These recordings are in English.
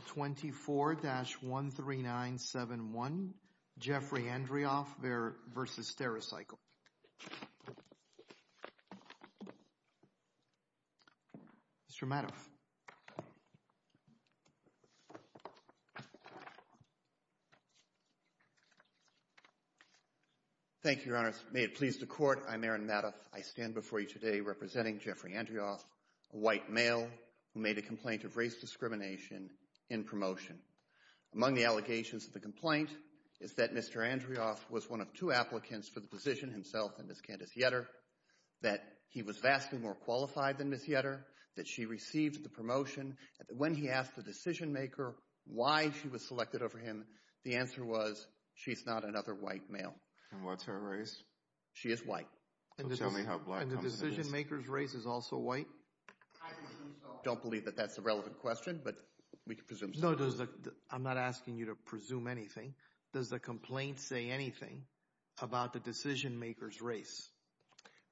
24-13971, Jeffrey Andrioff v. Stericycle. Mr. Madoff. Thank you, Your Honors. May it please the Court, I'm Aaron Madoff. I stand before you today representing Jeffrey Andrioff, a white male who made a complaint of race discrimination in promotion. Among the allegations of the complaint is that Mr. Andrioff was one of two applicants for the position himself and Ms. Candace Yetter, that he was vastly more qualified than Ms. Yetter, that she received the promotion. When he asked the decision-maker why she was selected over him, the answer was, she's not another white male. And what's her race? She is white. And the decision-maker's race is also white? I don't believe that that's a relevant question, but we can presume so. No, I'm not asking you to presume anything. Does the complaint say anything about the decision-maker's race?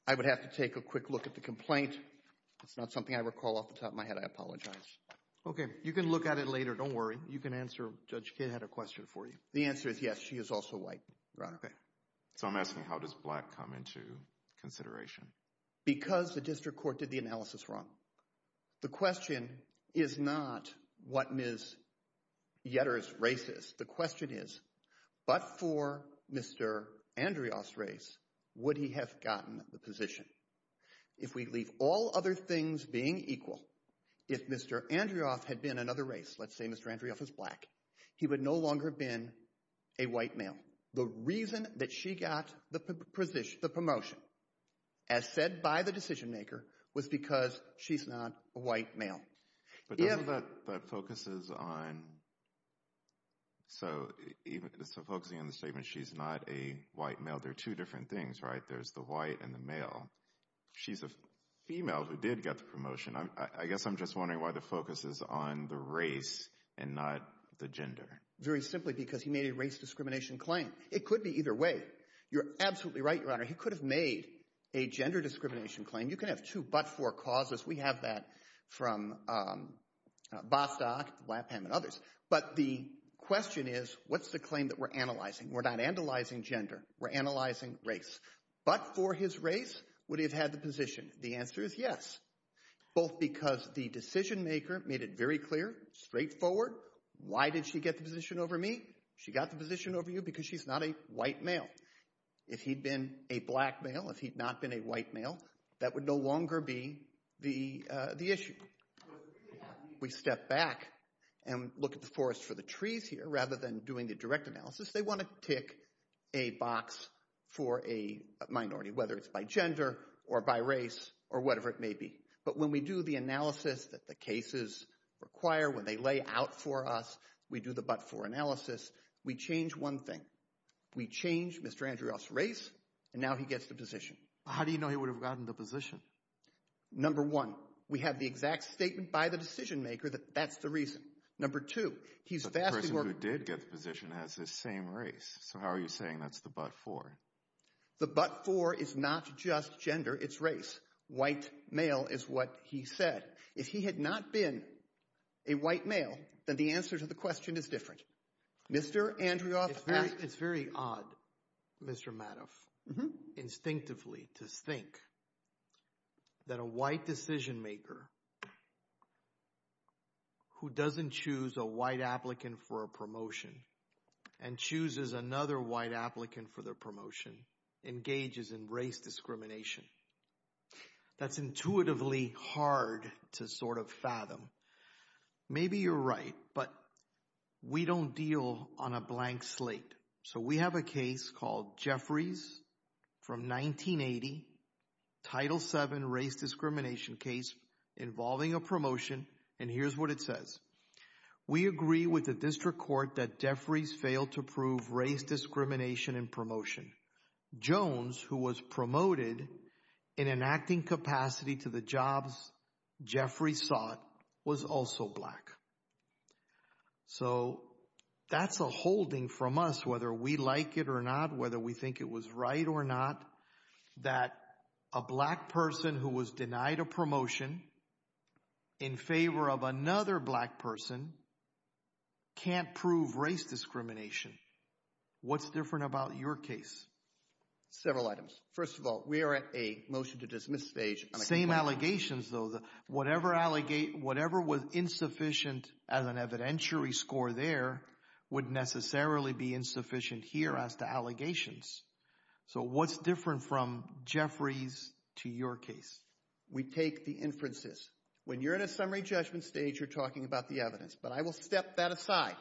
I would have to take a quick look at the complaint. It's not something I recall off the top of my head. I apologize. Okay. You can look at it later. Don't worry. You can answer. Judge Kidd had a question for you. The answer is, yes, she is also white. Okay. So I'm asking, how does black come into consideration? Because the district court did the analysis wrong. The question is not what Ms. Yetter's race is. The question is, but for Mr. Andrioff's race, would he have gotten the position? If we leave all other things being equal, if Mr. Andrioff had been another race, let's say Mr. Andrioff is black, he would no longer have been a white male. The reason that she got the promotion, as said by the decision-maker, was because she's not a white male. But doesn't that focus on the statement, she's not a white male? There are two different things, right? There's the white and the male. She's a female who did get the promotion. I guess I'm just wondering why the focus is on the race and not the gender. Very simply because he made a race discrimination claim. It could be either way. You're absolutely right, Your Honor. He could have made a gender discrimination claim. You can have two but-for causes. We have that from Bostock and others. But the question is, what's the claim that we're analyzing? We're not analyzing gender. We're analyzing race. But for his race, would he have had the position? The answer is yes. Both because the decision-maker made it very clear, straightforward. Why did she get the position over me? She got the position over you because she's not a white male. If he'd been a black male, if he'd not been a white male, that would no longer be the issue. We step back and look at the forest for the trees here. Rather than doing the direct analysis, they want to tick a box for a minority, whether it's by gender or by race or whatever it may be. But when we do the analysis that the cases require, when they lay out for us, we do the but-for analysis, we change one thing. We change Mr. Andreoff's race, and now he gets the position. How do you know he would have gotten the position? Number one, we have the exact statement by the decision-maker that that's the reason. Number two, he's vastly more— But the person who did get the position has the same race. So how are you saying that's the but-for? The but-for is not just gender, it's race. White male is what he said. If he had not been a white male, then the answer to the question is different. Mr. Andreoff asked— It's very odd, Mr. Madoff, instinctively to think that a white decision-maker who doesn't choose a white applicant for a promotion and chooses another white applicant for their promotion engages in race discrimination. That's intuitively hard to sort of fathom. Maybe you're right, but we don't deal on a blank slate. So we have a case called Jeffries from 1980, Title VII race discrimination case involving a promotion, and here's what it says. We agree with the district court that Jeffries failed to prove race discrimination in promotion. Jones, who was promoted in an acting capacity to the jobs Jeffries sought, was also black. So that's a holding from us, whether we like it or not, whether we think it was right or not, that a black person who was denied a promotion in favor of another black person can't prove race discrimination. What's different about your case? Several items. First of all, we are at a motion to dismiss stage. Same allegations, though. Whatever was insufficient as an evidentiary score there would necessarily be insufficient here as to allegations. So what's different from Jeffries to your case? We take the inferences. When you're at a summary judgment stage, you're talking about the evidence, but I will step that aside,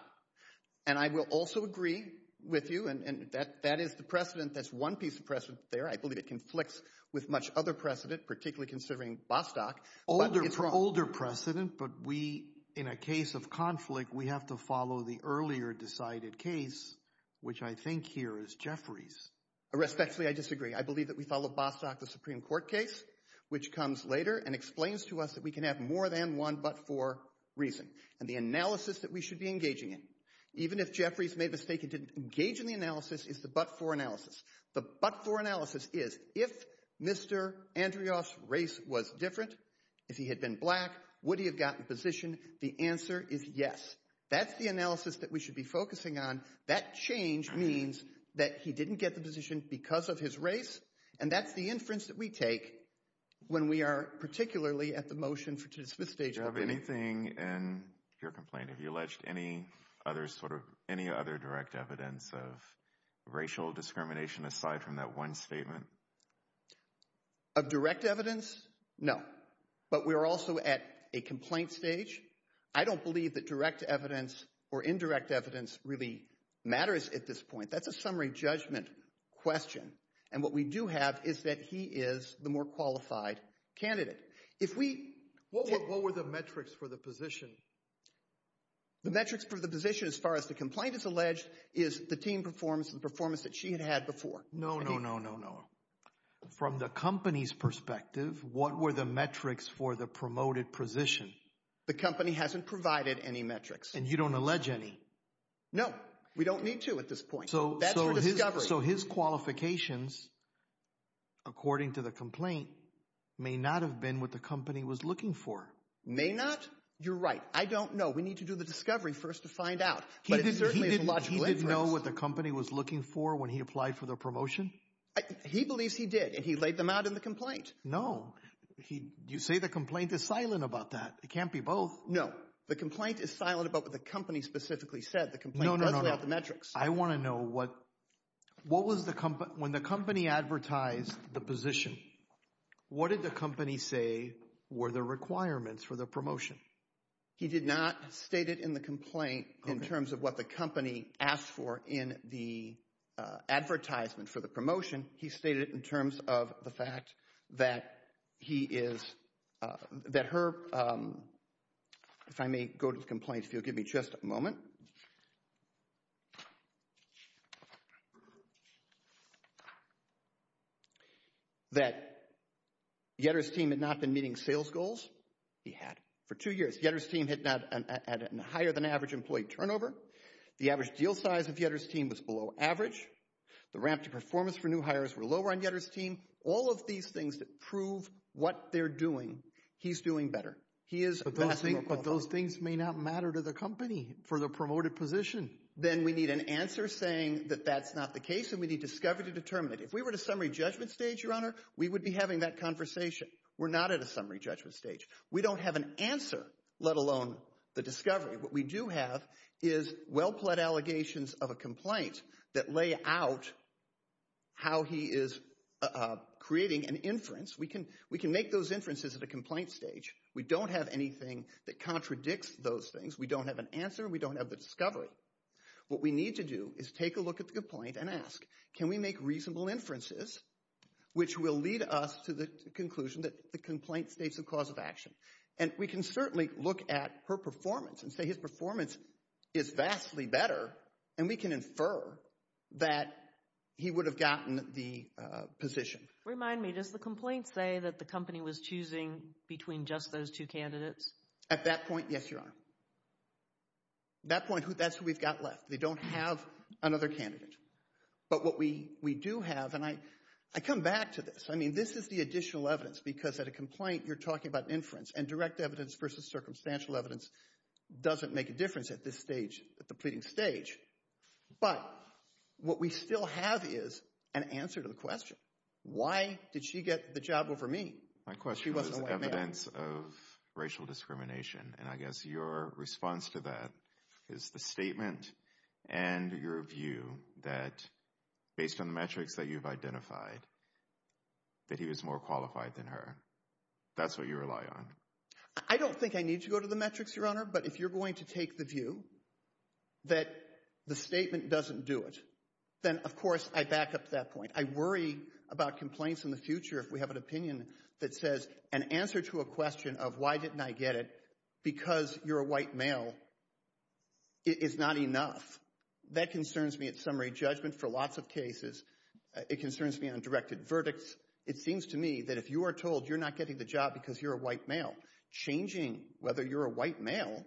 and I will also agree with you, and that is the precedent that's one piece of precedent there. I believe it conflicts with much other precedent, particularly considering Bostock. It's an older precedent, but we, in a case of conflict, we have to follow the earlier decided case, which I think here is Jeffries. Respectfully, I disagree. I believe that we follow Bostock, the Supreme Court case, which comes later and explains to us that we can have more than one but-for reason. And the analysis that we should be engaging in, even if Jeffries made the mistake he didn't engage in the analysis, is the but-for analysis. The but-for analysis is if Mr. Andrioff's race was different, if he had been black, would he have gotten the position? The answer is yes. That's the analysis that we should be focusing on. That change means that he didn't get the position because of his race, and that's the inference that we take when we are particularly at the motion for the fifth stage. Do you have anything in your complaint? Have you alleged any other sort of direct evidence of racial discrimination aside from that one statement? Of direct evidence? No. But we are also at a complaint stage. I don't believe that direct evidence or indirect evidence really matters at this point. That's a summary judgment question. And what we do have is that he is the more qualified candidate. What were the metrics for the position? The metrics for the position, as far as the complaint is alleged, is the team performance and the performance that she had had before. No, no, no, no, no. From the company's perspective, what were the metrics for the promoted position? The company hasn't provided any metrics. And you don't allege any? No, we don't need to at this point. So his qualifications, according to the complaint, may not have been what the company was looking for. May not? You're right. I don't know. We need to do the discovery first to find out. He didn't know what the company was looking for when he applied for the promotion? He believes he did, and he laid them out in the complaint. No. You say the complaint is silent about that. It can't be both. No. The complaint is silent about what the company specifically said. No, no, no, no. The complaint does lay out the metrics. I want to know what was the company. When the company advertised the position, what did the company say were the requirements for the promotion? He did not state it in the complaint in terms of what the company asked for in the advertisement for the promotion. He stated it in terms of the fact that he is, that her, if I may go to the complaint if you'll give me just a moment. That Yetter's team had not been meeting sales goals. He had. For two years, Yetter's team had not had a higher than average employee turnover. The average deal size of Yetter's team was below average. The ramp to performance for new hires were lower on Yetter's team. All of these things prove what they're doing. He's doing better. But those things may not matter to the company for the promoted position. Then we need an answer saying that that's not the case and we need discovery to determine it. If we were at a summary judgment stage, Your Honor, we would be having that conversation. We're not at a summary judgment stage. We don't have an answer, let alone the discovery. What we do have is well-pled allegations of a complaint that lay out how he is creating an inference. We can make those inferences at a complaint stage. We don't have anything that contradicts those things. We don't have an answer. We don't have the discovery. What we need to do is take a look at the complaint and ask, can we make reasonable inferences, which will lead us to the conclusion that the complaint states a cause of action. And we can certainly look at her performance and say his performance is vastly better, and we can infer that he would have gotten the position. Remind me, does the complaint say that the company was choosing between just those two candidates? At that point, yes, Your Honor. At that point, that's who we've got left. They don't have another candidate. But what we do have, and I come back to this. I mean this is the additional evidence because at a complaint you're talking about inference, and direct evidence versus circumstantial evidence doesn't make a difference at this stage, at the pleading stage. But what we still have is an answer to the question. Why did she get the job over me? My question was evidence of racial discrimination, and I guess your response to that is the statement and your view that based on the metrics that you've identified, that he was more qualified than her. That's what you rely on. I don't think I need to go to the metrics, Your Honor, but if you're going to take the view that the statement doesn't do it, then of course I back up to that point. I worry about complaints in the future if we have an opinion that says an answer to a question of why didn't I get it because you're a white male is not enough. That concerns me at summary judgment for lots of cases. It concerns me on directed verdicts. It seems to me that if you are told you're not getting the job because you're a white male, changing whether you're a white male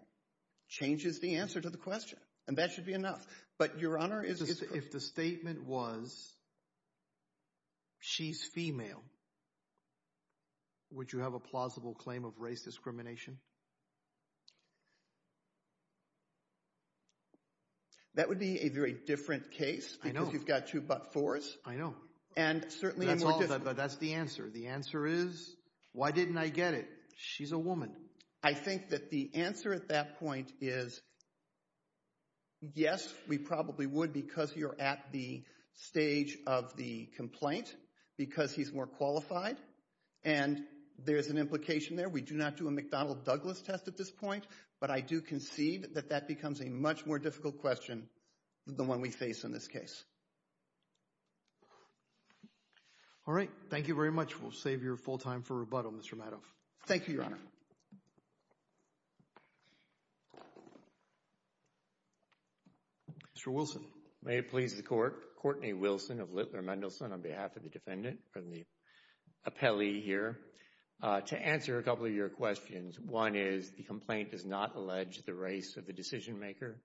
changes the answer to the question, and that should be enough. But, Your Honor, if the statement was she's female, would you have a plausible claim of race discrimination? That would be a very different case because you've got two but fours. I know. And certainly more difficult. That's the answer. The answer is why didn't I get it? She's a woman. I think that the answer at that point is yes, we probably would because you're at the stage of the complaint because he's more qualified, and there's an implication there. We do not do a McDonnell-Douglas test at this point, but I do concede that that becomes a much more difficult question than the one we face in this case. All right. Thank you very much. We'll save your full time for rebuttal, Mr. Madoff. Thank you, Your Honor. Mr. Wilson. May it please the Court. Courtney Wilson of Littler Mendelsohn on behalf of the defendant from the appellee here. To answer a couple of your questions, one is the complaint does not allege the race of the decision maker,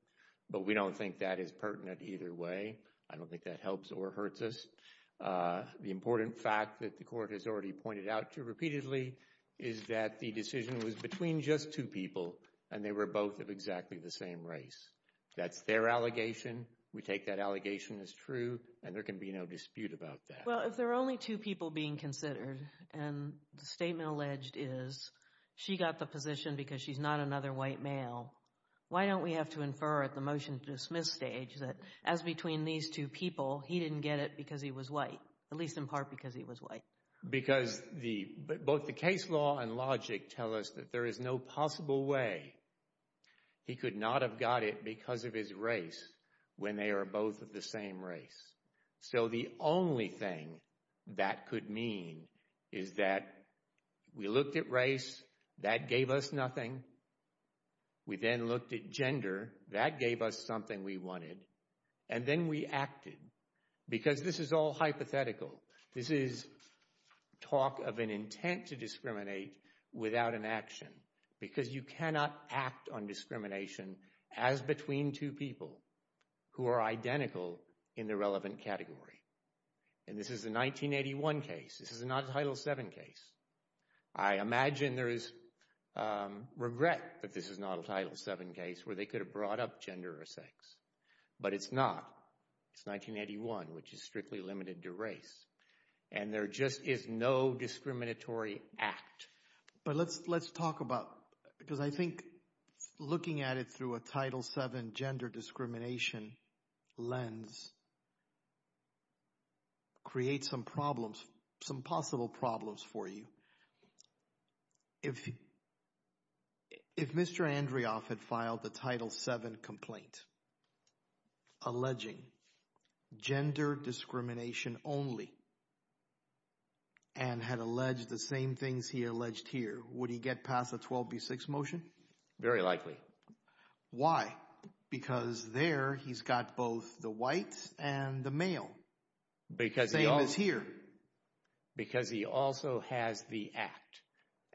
but we don't think that is pertinent either way. I don't think that helps or hurts us. The important fact that the Court has already pointed out to repeatedly is that the decision was between just two people, and they were both of exactly the same race. That's their allegation. We take that allegation as true, and there can be no dispute about that. Well, if there are only two people being considered, and the statement alleged is she got the position because she's not another white male, why don't we have to infer at the motion-to-dismiss stage that as between these two people, he didn't get it because he was white, at least in part because he was white? Because both the case law and logic tell us that there is no possible way he could not have got it because of his race when they are both of the same race. So the only thing that could mean is that we looked at race. That gave us nothing. We then looked at gender. That gave us something we wanted. And then we acted because this is all hypothetical. This is talk of an intent to discriminate without an action because you cannot act on discrimination as between two people who are identical in the relevant category. And this is a 1981 case. This is not a Title VII case. I imagine there is regret that this is not a Title VII case where they could have brought up gender or sex, but it's not. It's 1981, which is strictly limited to race. And there just is no discriminatory act. But let's talk about – because I think looking at it through a Title VII gender discrimination lens creates some problems, some possible problems for you. If Mr. Andrioff had filed the Title VII complaint alleging gender discrimination only and had alleged the same things he alleged here, would he get past the 12B6 motion? Very likely. Why? Because there he's got both the whites and the male. Same as here. Because he also has the act.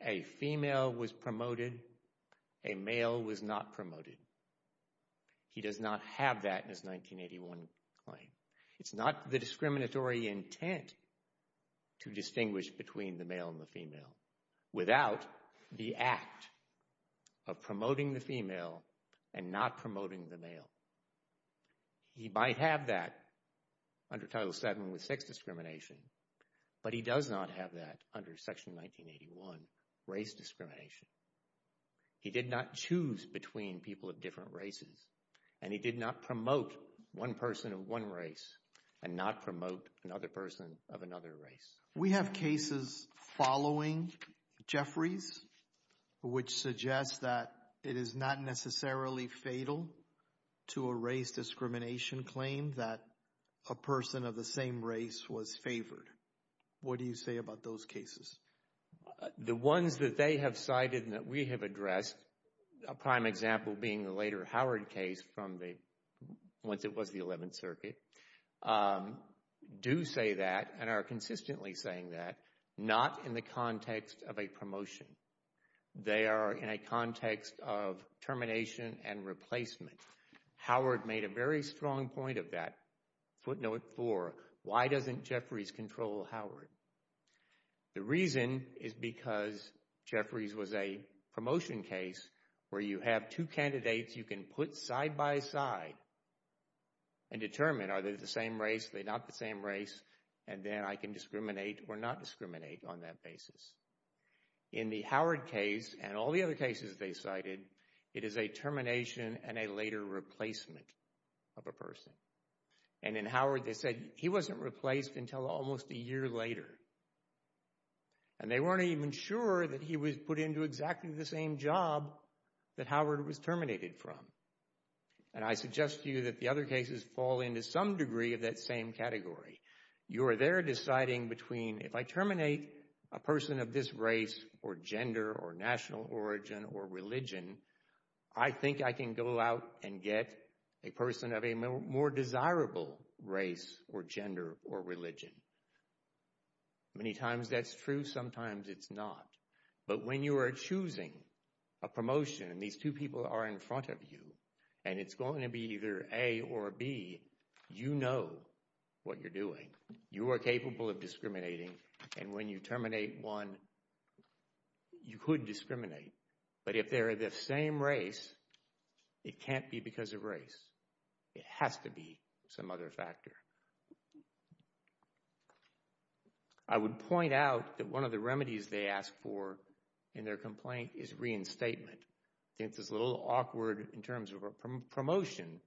A female was promoted. A male was not promoted. He does not have that in his 1981 claim. It's not the discriminatory intent to distinguish between the male and the female without the act of promoting the female and not promoting the male. He might have that under Title VII with sex discrimination, but he does not have that under Section 1981 race discrimination. He did not choose between people of different races, and he did not promote one person of one race and not promote another person of another race. We have cases following Jeffrey's which suggest that it is not necessarily fatal to a race discrimination claim that a person of the same race was favored. What do you say about those cases? The ones that they have cited and that we have addressed, a prime example being the later Howard case from once it was the 11th Circuit, do say that and are consistently saying that, not in the context of a promotion. They are in a context of termination and replacement. Howard made a very strong point of that, footnote four, why doesn't Jeffreys control Howard? The reason is because Jeffreys was a promotion case where you have two candidates you can put side by side and determine are they the same race, are they not the same race, and then I can discriminate or not discriminate on that basis. In the Howard case and all the other cases they cited, it is a termination and a later replacement of a person. In Howard they said he wasn't replaced until almost a year later. They weren't even sure that he was put into exactly the same job that Howard was terminated from. I suggest to you that the other cases fall into some degree of that same category. You are there deciding between if I terminate a person of this race or gender or national origin or religion, I think I can go out and get a person of a more desirable race or gender or religion. Many times that's true, sometimes it's not. But when you are choosing a promotion and these two people are in front of you and it's going to be either A or B, you know what you're doing. You are capable of discriminating and when you terminate one, you could discriminate. But if they're the same race, it can't be because of race. It has to be some other factor. I would point out that one of the remedies they ask for in their complaint is reinstatement. I think this is a little awkward in terms of a promotion,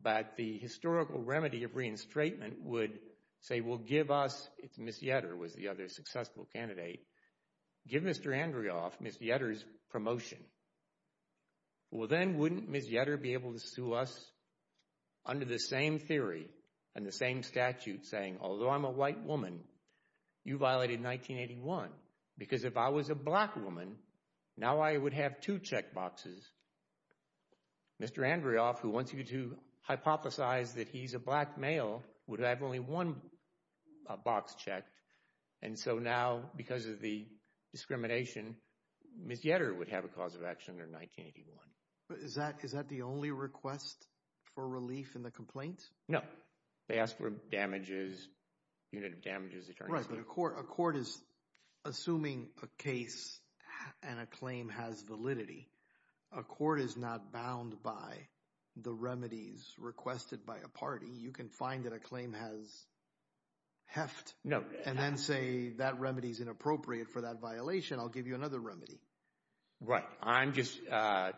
but the historical remedy of reinstatement would say, well, give us, it's Ms. Yetter was the other successful candidate, give Mr. Andrioff, Ms. Yetter's promotion. Well, then wouldn't Ms. Yetter be able to sue us under the same theory and the same statute saying, although I'm a white woman, you violated 1981 because if I was a black woman, now I would have two check boxes. Mr. Andrioff, who wants you to hypothesize that he's a black male, would have only one box checked. And so now because of the discrimination, Ms. Yetter would have a cause of action under 1981. Is that the only request for relief in the complaint? No. They ask for damages, unit of damages. Right, but a court is assuming a case and a claim has validity. A court is not bound by the remedies requested by a party. You can find that a claim has heft and then say that remedy is inappropriate for that violation. I'll give you another remedy. Right. I'm just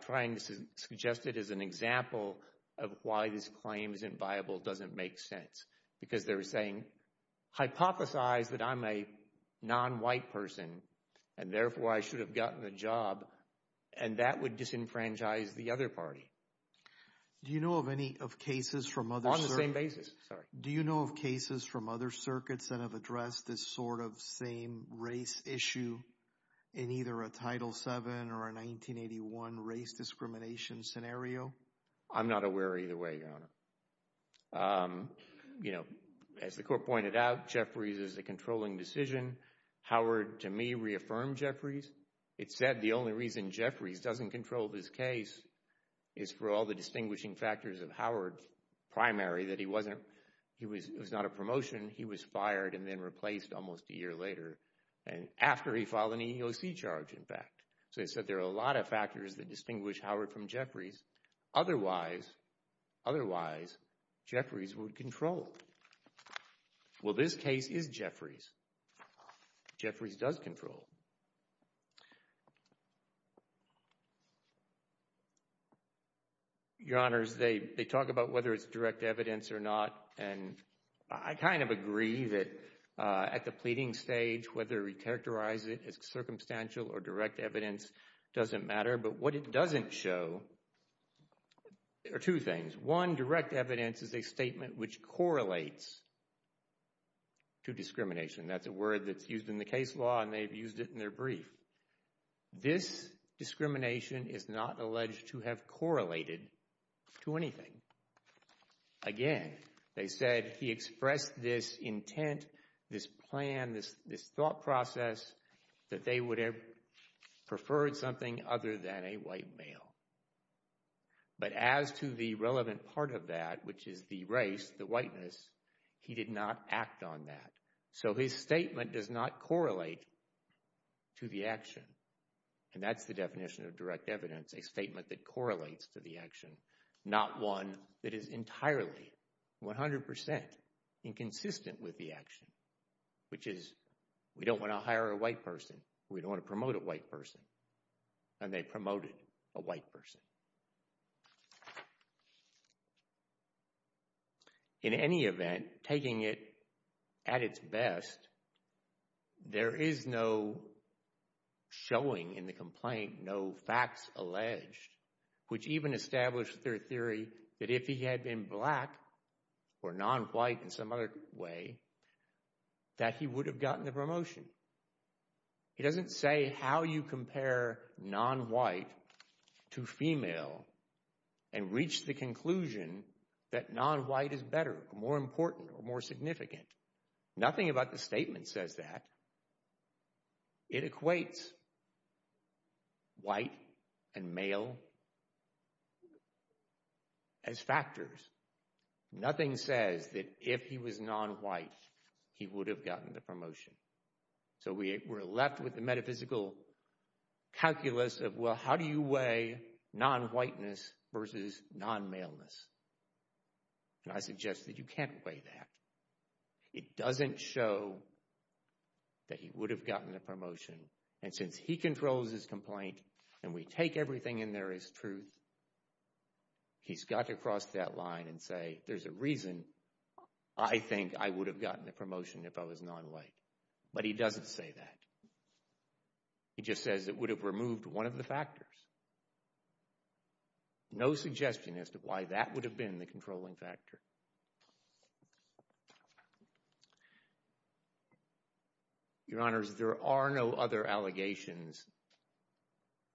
trying to suggest it as an example of why this claim isn't viable doesn't make sense. Because they're saying hypothesize that I'm a non-white person and therefore I should have gotten the job and that would disenfranchise the other party. Do you know of any cases from other... On the same basis, sorry. Do you know of cases from other circuits that have addressed this sort of same race issue in either a Title VII or a 1981 race discrimination scenario? I'm not aware either way, Your Honor. You know, as the court pointed out, Jeffries is a controlling decision. Howard, to me, reaffirmed Jeffries. It said the only reason Jeffries doesn't control this case is for all the distinguishing factors of Howard's primary that he wasn't... He was not a promotion. He was fired and then replaced almost a year later and after he filed an EEOC charge, in fact. So it said there are a lot of factors that distinguish Howard from Jeffries. Otherwise, Jeffries would control. Well, this case is Jeffries. Jeffries does control. Your Honors, they talk about whether it's direct evidence or not and I kind of agree that at the pleading stage, whether we characterize it as circumstantial or direct evidence doesn't matter. But what it doesn't show are two things. One, direct evidence is a statement which correlates to discrimination. That's a word that's used in the case law and they've used it in their brief. This discrimination is not alleged to have correlated to anything. Again, they said he expressed this intent, this plan, this thought process that they would have preferred something other than a white male. But as to the relevant part of that, which is the race, the whiteness, he did not act on that. So his statement does not correlate to the action. And that's the definition of direct evidence, a statement that correlates to the action, not one that is entirely, 100%, inconsistent with the action. Which is, we don't want to hire a white person. We don't want to promote a white person. And they promoted a white person. In any event, taking it at its best, there is no showing in the complaint, no facts alleged. Which even established their theory that if he had been black or non-white in some other way, that he would have gotten the promotion. It doesn't say how you compare non-white to female and reach the conclusion that non-white is better, more important, or more significant. Nothing about the statement says that. It equates white and male as factors. Nothing says that if he was non-white, he would have gotten the promotion. So we're left with the metaphysical calculus of, well, how do you weigh non-whiteness versus non-maleness? And I suggest that you can't weigh that. It doesn't show that he would have gotten the promotion. And since he controls his complaint, and we take everything in there as truth, he's got to cross that line and say, there's a reason I think I would have gotten the promotion if I was non-white. But he doesn't say that. He just says it would have removed one of the factors. No suggestion as to why that would have been the controlling factor. Your Honors, there are no other allegations,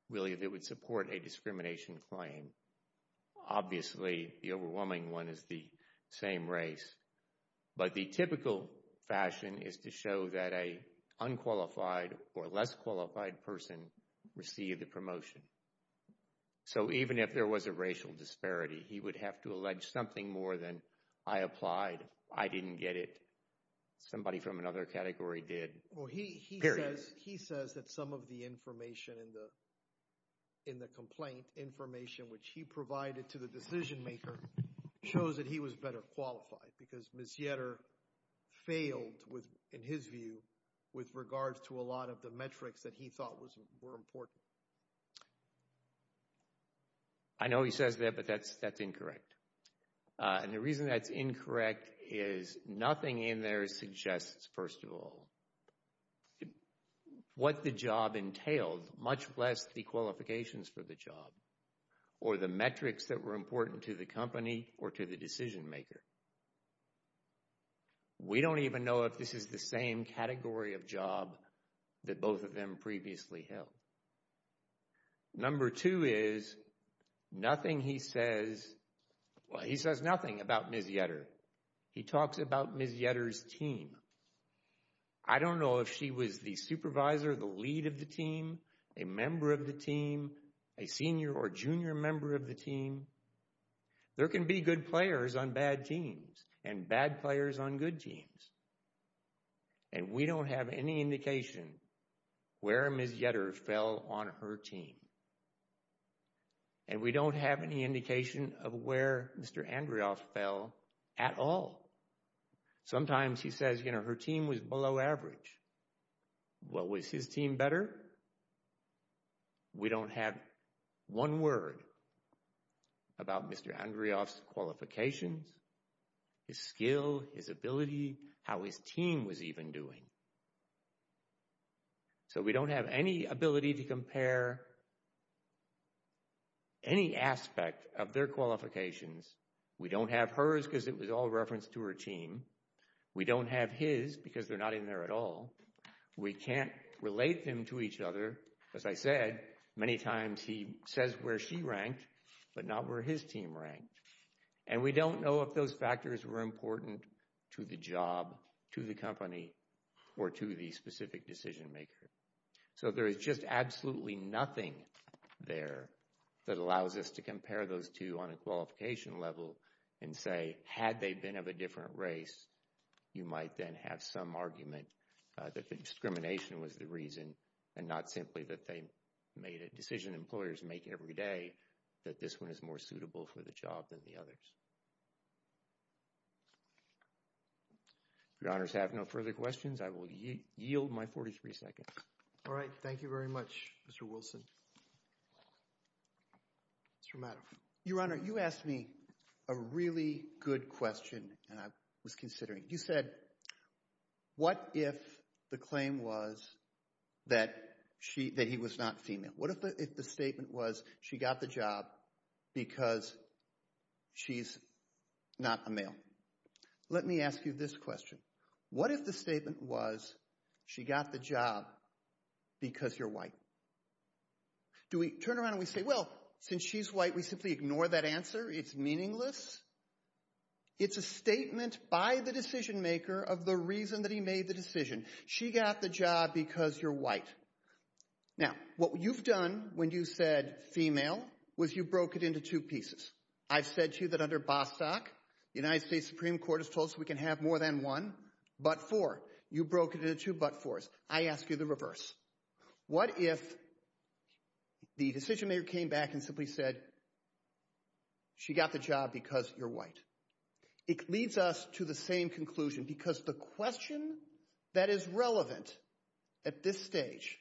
really, that would support a discrimination claim. Obviously, the overwhelming one is the same race. But the typical fashion is to show that an unqualified or less qualified person received the promotion. So even if there was a racial disparity, he would have to allege something more than I applied, I didn't get it, somebody from another category did. Period. He says that some of the information in the complaint, information which he provided to the decision maker, shows that he was better qualified because Ms. Yetter failed, in his view, with regards to a lot of the metrics that he thought were important. I know he says that, but that's incorrect. And the reason that's incorrect is nothing in there suggests, first of all, what the job entailed, much less the qualifications for the job or the metrics that were important to the company or to the decision maker. We don't even know if this is the same category of job that both of them previously held. Number two is, nothing he says, well, he says nothing about Ms. Yetter. He talks about Ms. Yetter's team. I don't know if she was the supervisor, the lead of the team, a member of the team, a senior or junior member of the team. There can be good players on bad teams and bad players on good teams. And we don't have any indication where Ms. Yetter fell on her team. And we don't have any indication of where Mr. Andrioff fell at all. Sometimes he says, you know, her team was below average. Well, was his team better? We don't have one word about Mr. Andrioff's qualifications, his skill, his ability, how his team was even doing. So we don't have any ability to compare any aspect of their qualifications. We don't have hers because it was all referenced to her team. We don't have his because they're not in there at all. We can't relate them to each other. As I said, many times he says where she ranked, but not where his team ranked. And we don't know if those factors were important to the job, to the company, or to the specific decision maker. So there is just absolutely nothing there that allows us to compare those two on a qualification level and say, had they been of a different race, you might then have some argument that the discrimination was the reason and not simply that they made a decision employers make every day that this one is more suitable for the job than the others. If your honors have no further questions, I will yield my 43 seconds. All right. Thank you very much, Mr. Wilson. Mr. Madoff. Your Honor, you asked me a really good question and I was considering it. You said, what if the claim was that he was not female? What if the statement was she got the job because she's not a male? Let me ask you this question. What if the statement was she got the job because you're white? Do we turn around and we say, well, since she's white, we simply ignore that answer? It's meaningless? It's a statement by the decision maker of the reason that he made the decision. She got the job because you're white. Now, what you've done when you said female was you broke it into two pieces. I've said to you that under Bostock, the United States Supreme Court has told us we can have more than one, but four. You broke it into two but fours. I ask you the reverse. What if the decision maker came back and simply said she got the job because you're white? It leads us to the same conclusion because the question that is relevant at this stage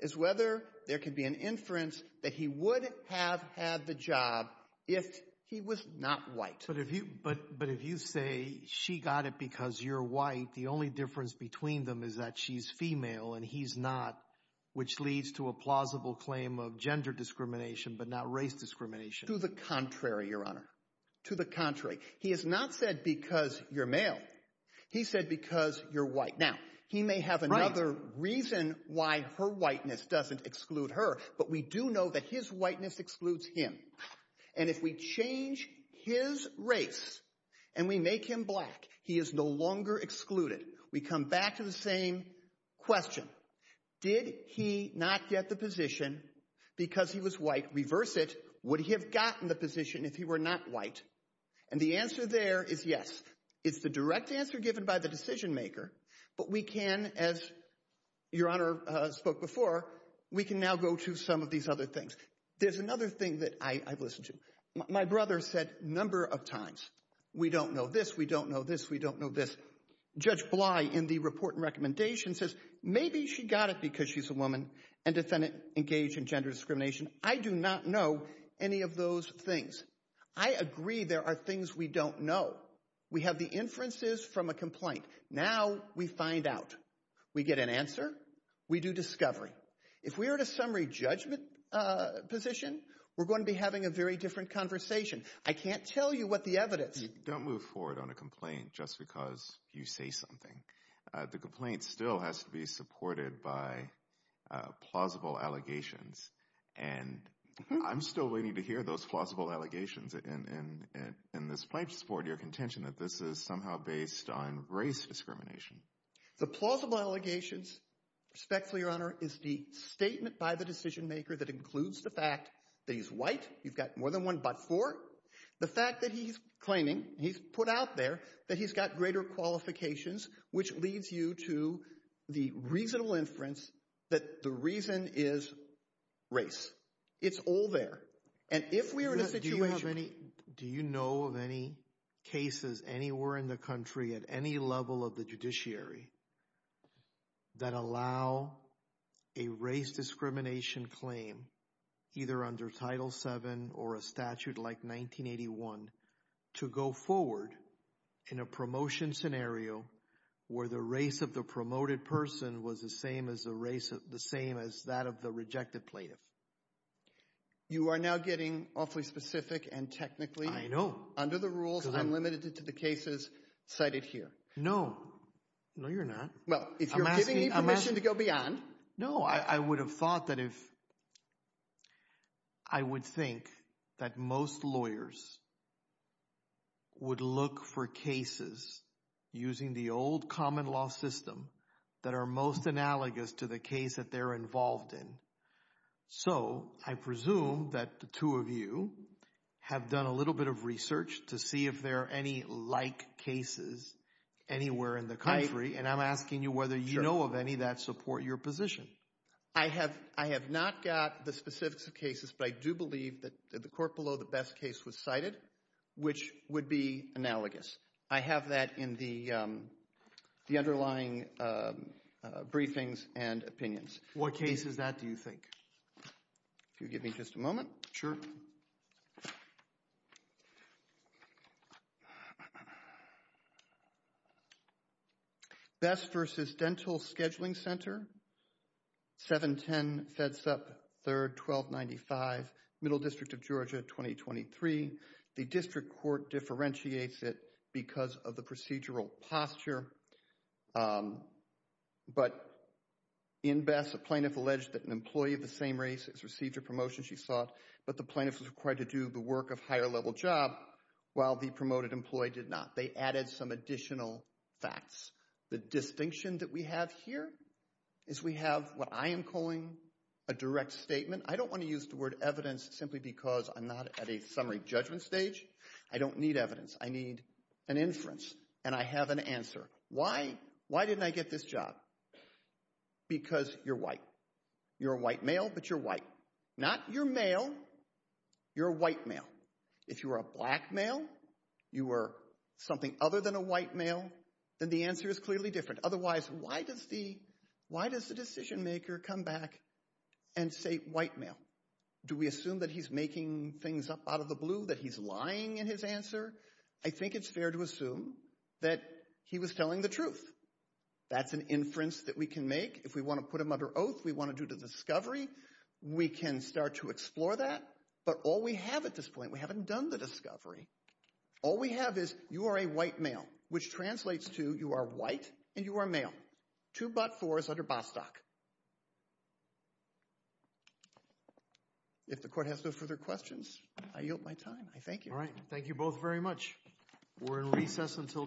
is whether there could be an inference that he would have had the job if he was not white. But if you say she got it because you're white, the only difference between them is that she's female and he's not, which leads to a plausible claim of gender discrimination but not race discrimination. To the contrary, Your Honor. To the contrary. He has not said because you're male. He said because you're white. Now, he may have another reason why her whiteness doesn't exclude her, but we do know that his whiteness excludes him. And if we change his race and we make him black, he is no longer excluded. We come back to the same question. Did he not get the position because he was white? Reverse it. Would he have gotten the position if he were not white? And the answer there is yes. It's the direct answer given by the decision maker, but we can, as Your Honor spoke before, we can now go to some of these other things. There's another thing that I've listened to. My brother said a number of times, we don't know this. We don't know this. We don't know this. Judge Bly, in the report and recommendation, says maybe she got it because she's a woman and didn't engage in gender discrimination. I do not know any of those things. I agree there are things we don't know. We have the inferences from a complaint. Now we find out. We get an answer. We do discovery. If we are at a summary judgment position, we're going to be having a very different conversation. I can't tell you what the evidence. Don't move forward on a complaint just because you say something. The complaint still has to be supported by plausible allegations, and I'm still waiting to hear those plausible allegations. And this might support your contention that this is somehow based on race discrimination. The plausible allegations, respectfully, Your Honor, is the statement by the decision maker that includes the fact that he's white. You've got more than one butt for it. The fact that he's claiming, he's put out there, that he's got greater qualifications, which leads you to the reasonable inference that the reason is race. It's all there. Do you know of any cases anywhere in the country at any level of the judiciary that allow a race discrimination claim either under Title VII or a statute like 1981 to go forward in a promotion scenario where the race of the promoted person was the same as the race of the same as that of the rejected plaintiff? You are now getting awfully specific and technically. Under the rules, I'm limited to the cases cited here. No. No, you're not. Well, if you're giving me permission to go beyond. No, I would have thought that if I would think that most lawyers would look for cases using the old common law system that are most analogous to the case that they're involved in. So I presume that the two of you have done a little bit of research to see if there are any like cases anywhere in the country. And I'm asking you whether you know of any that support your position. I have not got the specifics of cases, but I do believe that the court below the best case was cited, which would be analogous. I have that in the underlying briefings and opinions. What case is that, do you think? Can you give me just a moment? Best versus Dental Scheduling Center, 710 Fedsup 3rd, 1295 Middle District of Georgia, 2023. The district court differentiates it because of the procedural posture. But in Best, a plaintiff alleged that an employee of the same race has received a promotion, she thought, but the plaintiff was required to do the work of higher level job while the promoted employee did not. They added some additional facts. The distinction that we have here is we have what I am calling a direct statement. I don't want to use the word evidence simply because I'm not at a summary judgment stage. I don't need evidence. I need an inference, and I have an answer. Why didn't I get this job? Because you're white. You're a white male, but you're white. Not you're male, you're a white male. If you were a black male, you were something other than a white male, then the answer is clearly different. Otherwise, why does the decision maker come back and say white male? Do we assume that he's making things up out of the blue, that he's lying in his answer? I think it's fair to assume that he was telling the truth. That's an inference that we can make. If we want to put him under oath, we want to do the discovery. We can start to explore that, but all we have at this point, we haven't done the discovery. All we have is you are a white male, which translates to you are white and you are male. Two but fours under Bostock. If the court has no further questions, I yield my time. I thank you. Thank you both very much. We're in recess until tomorrow.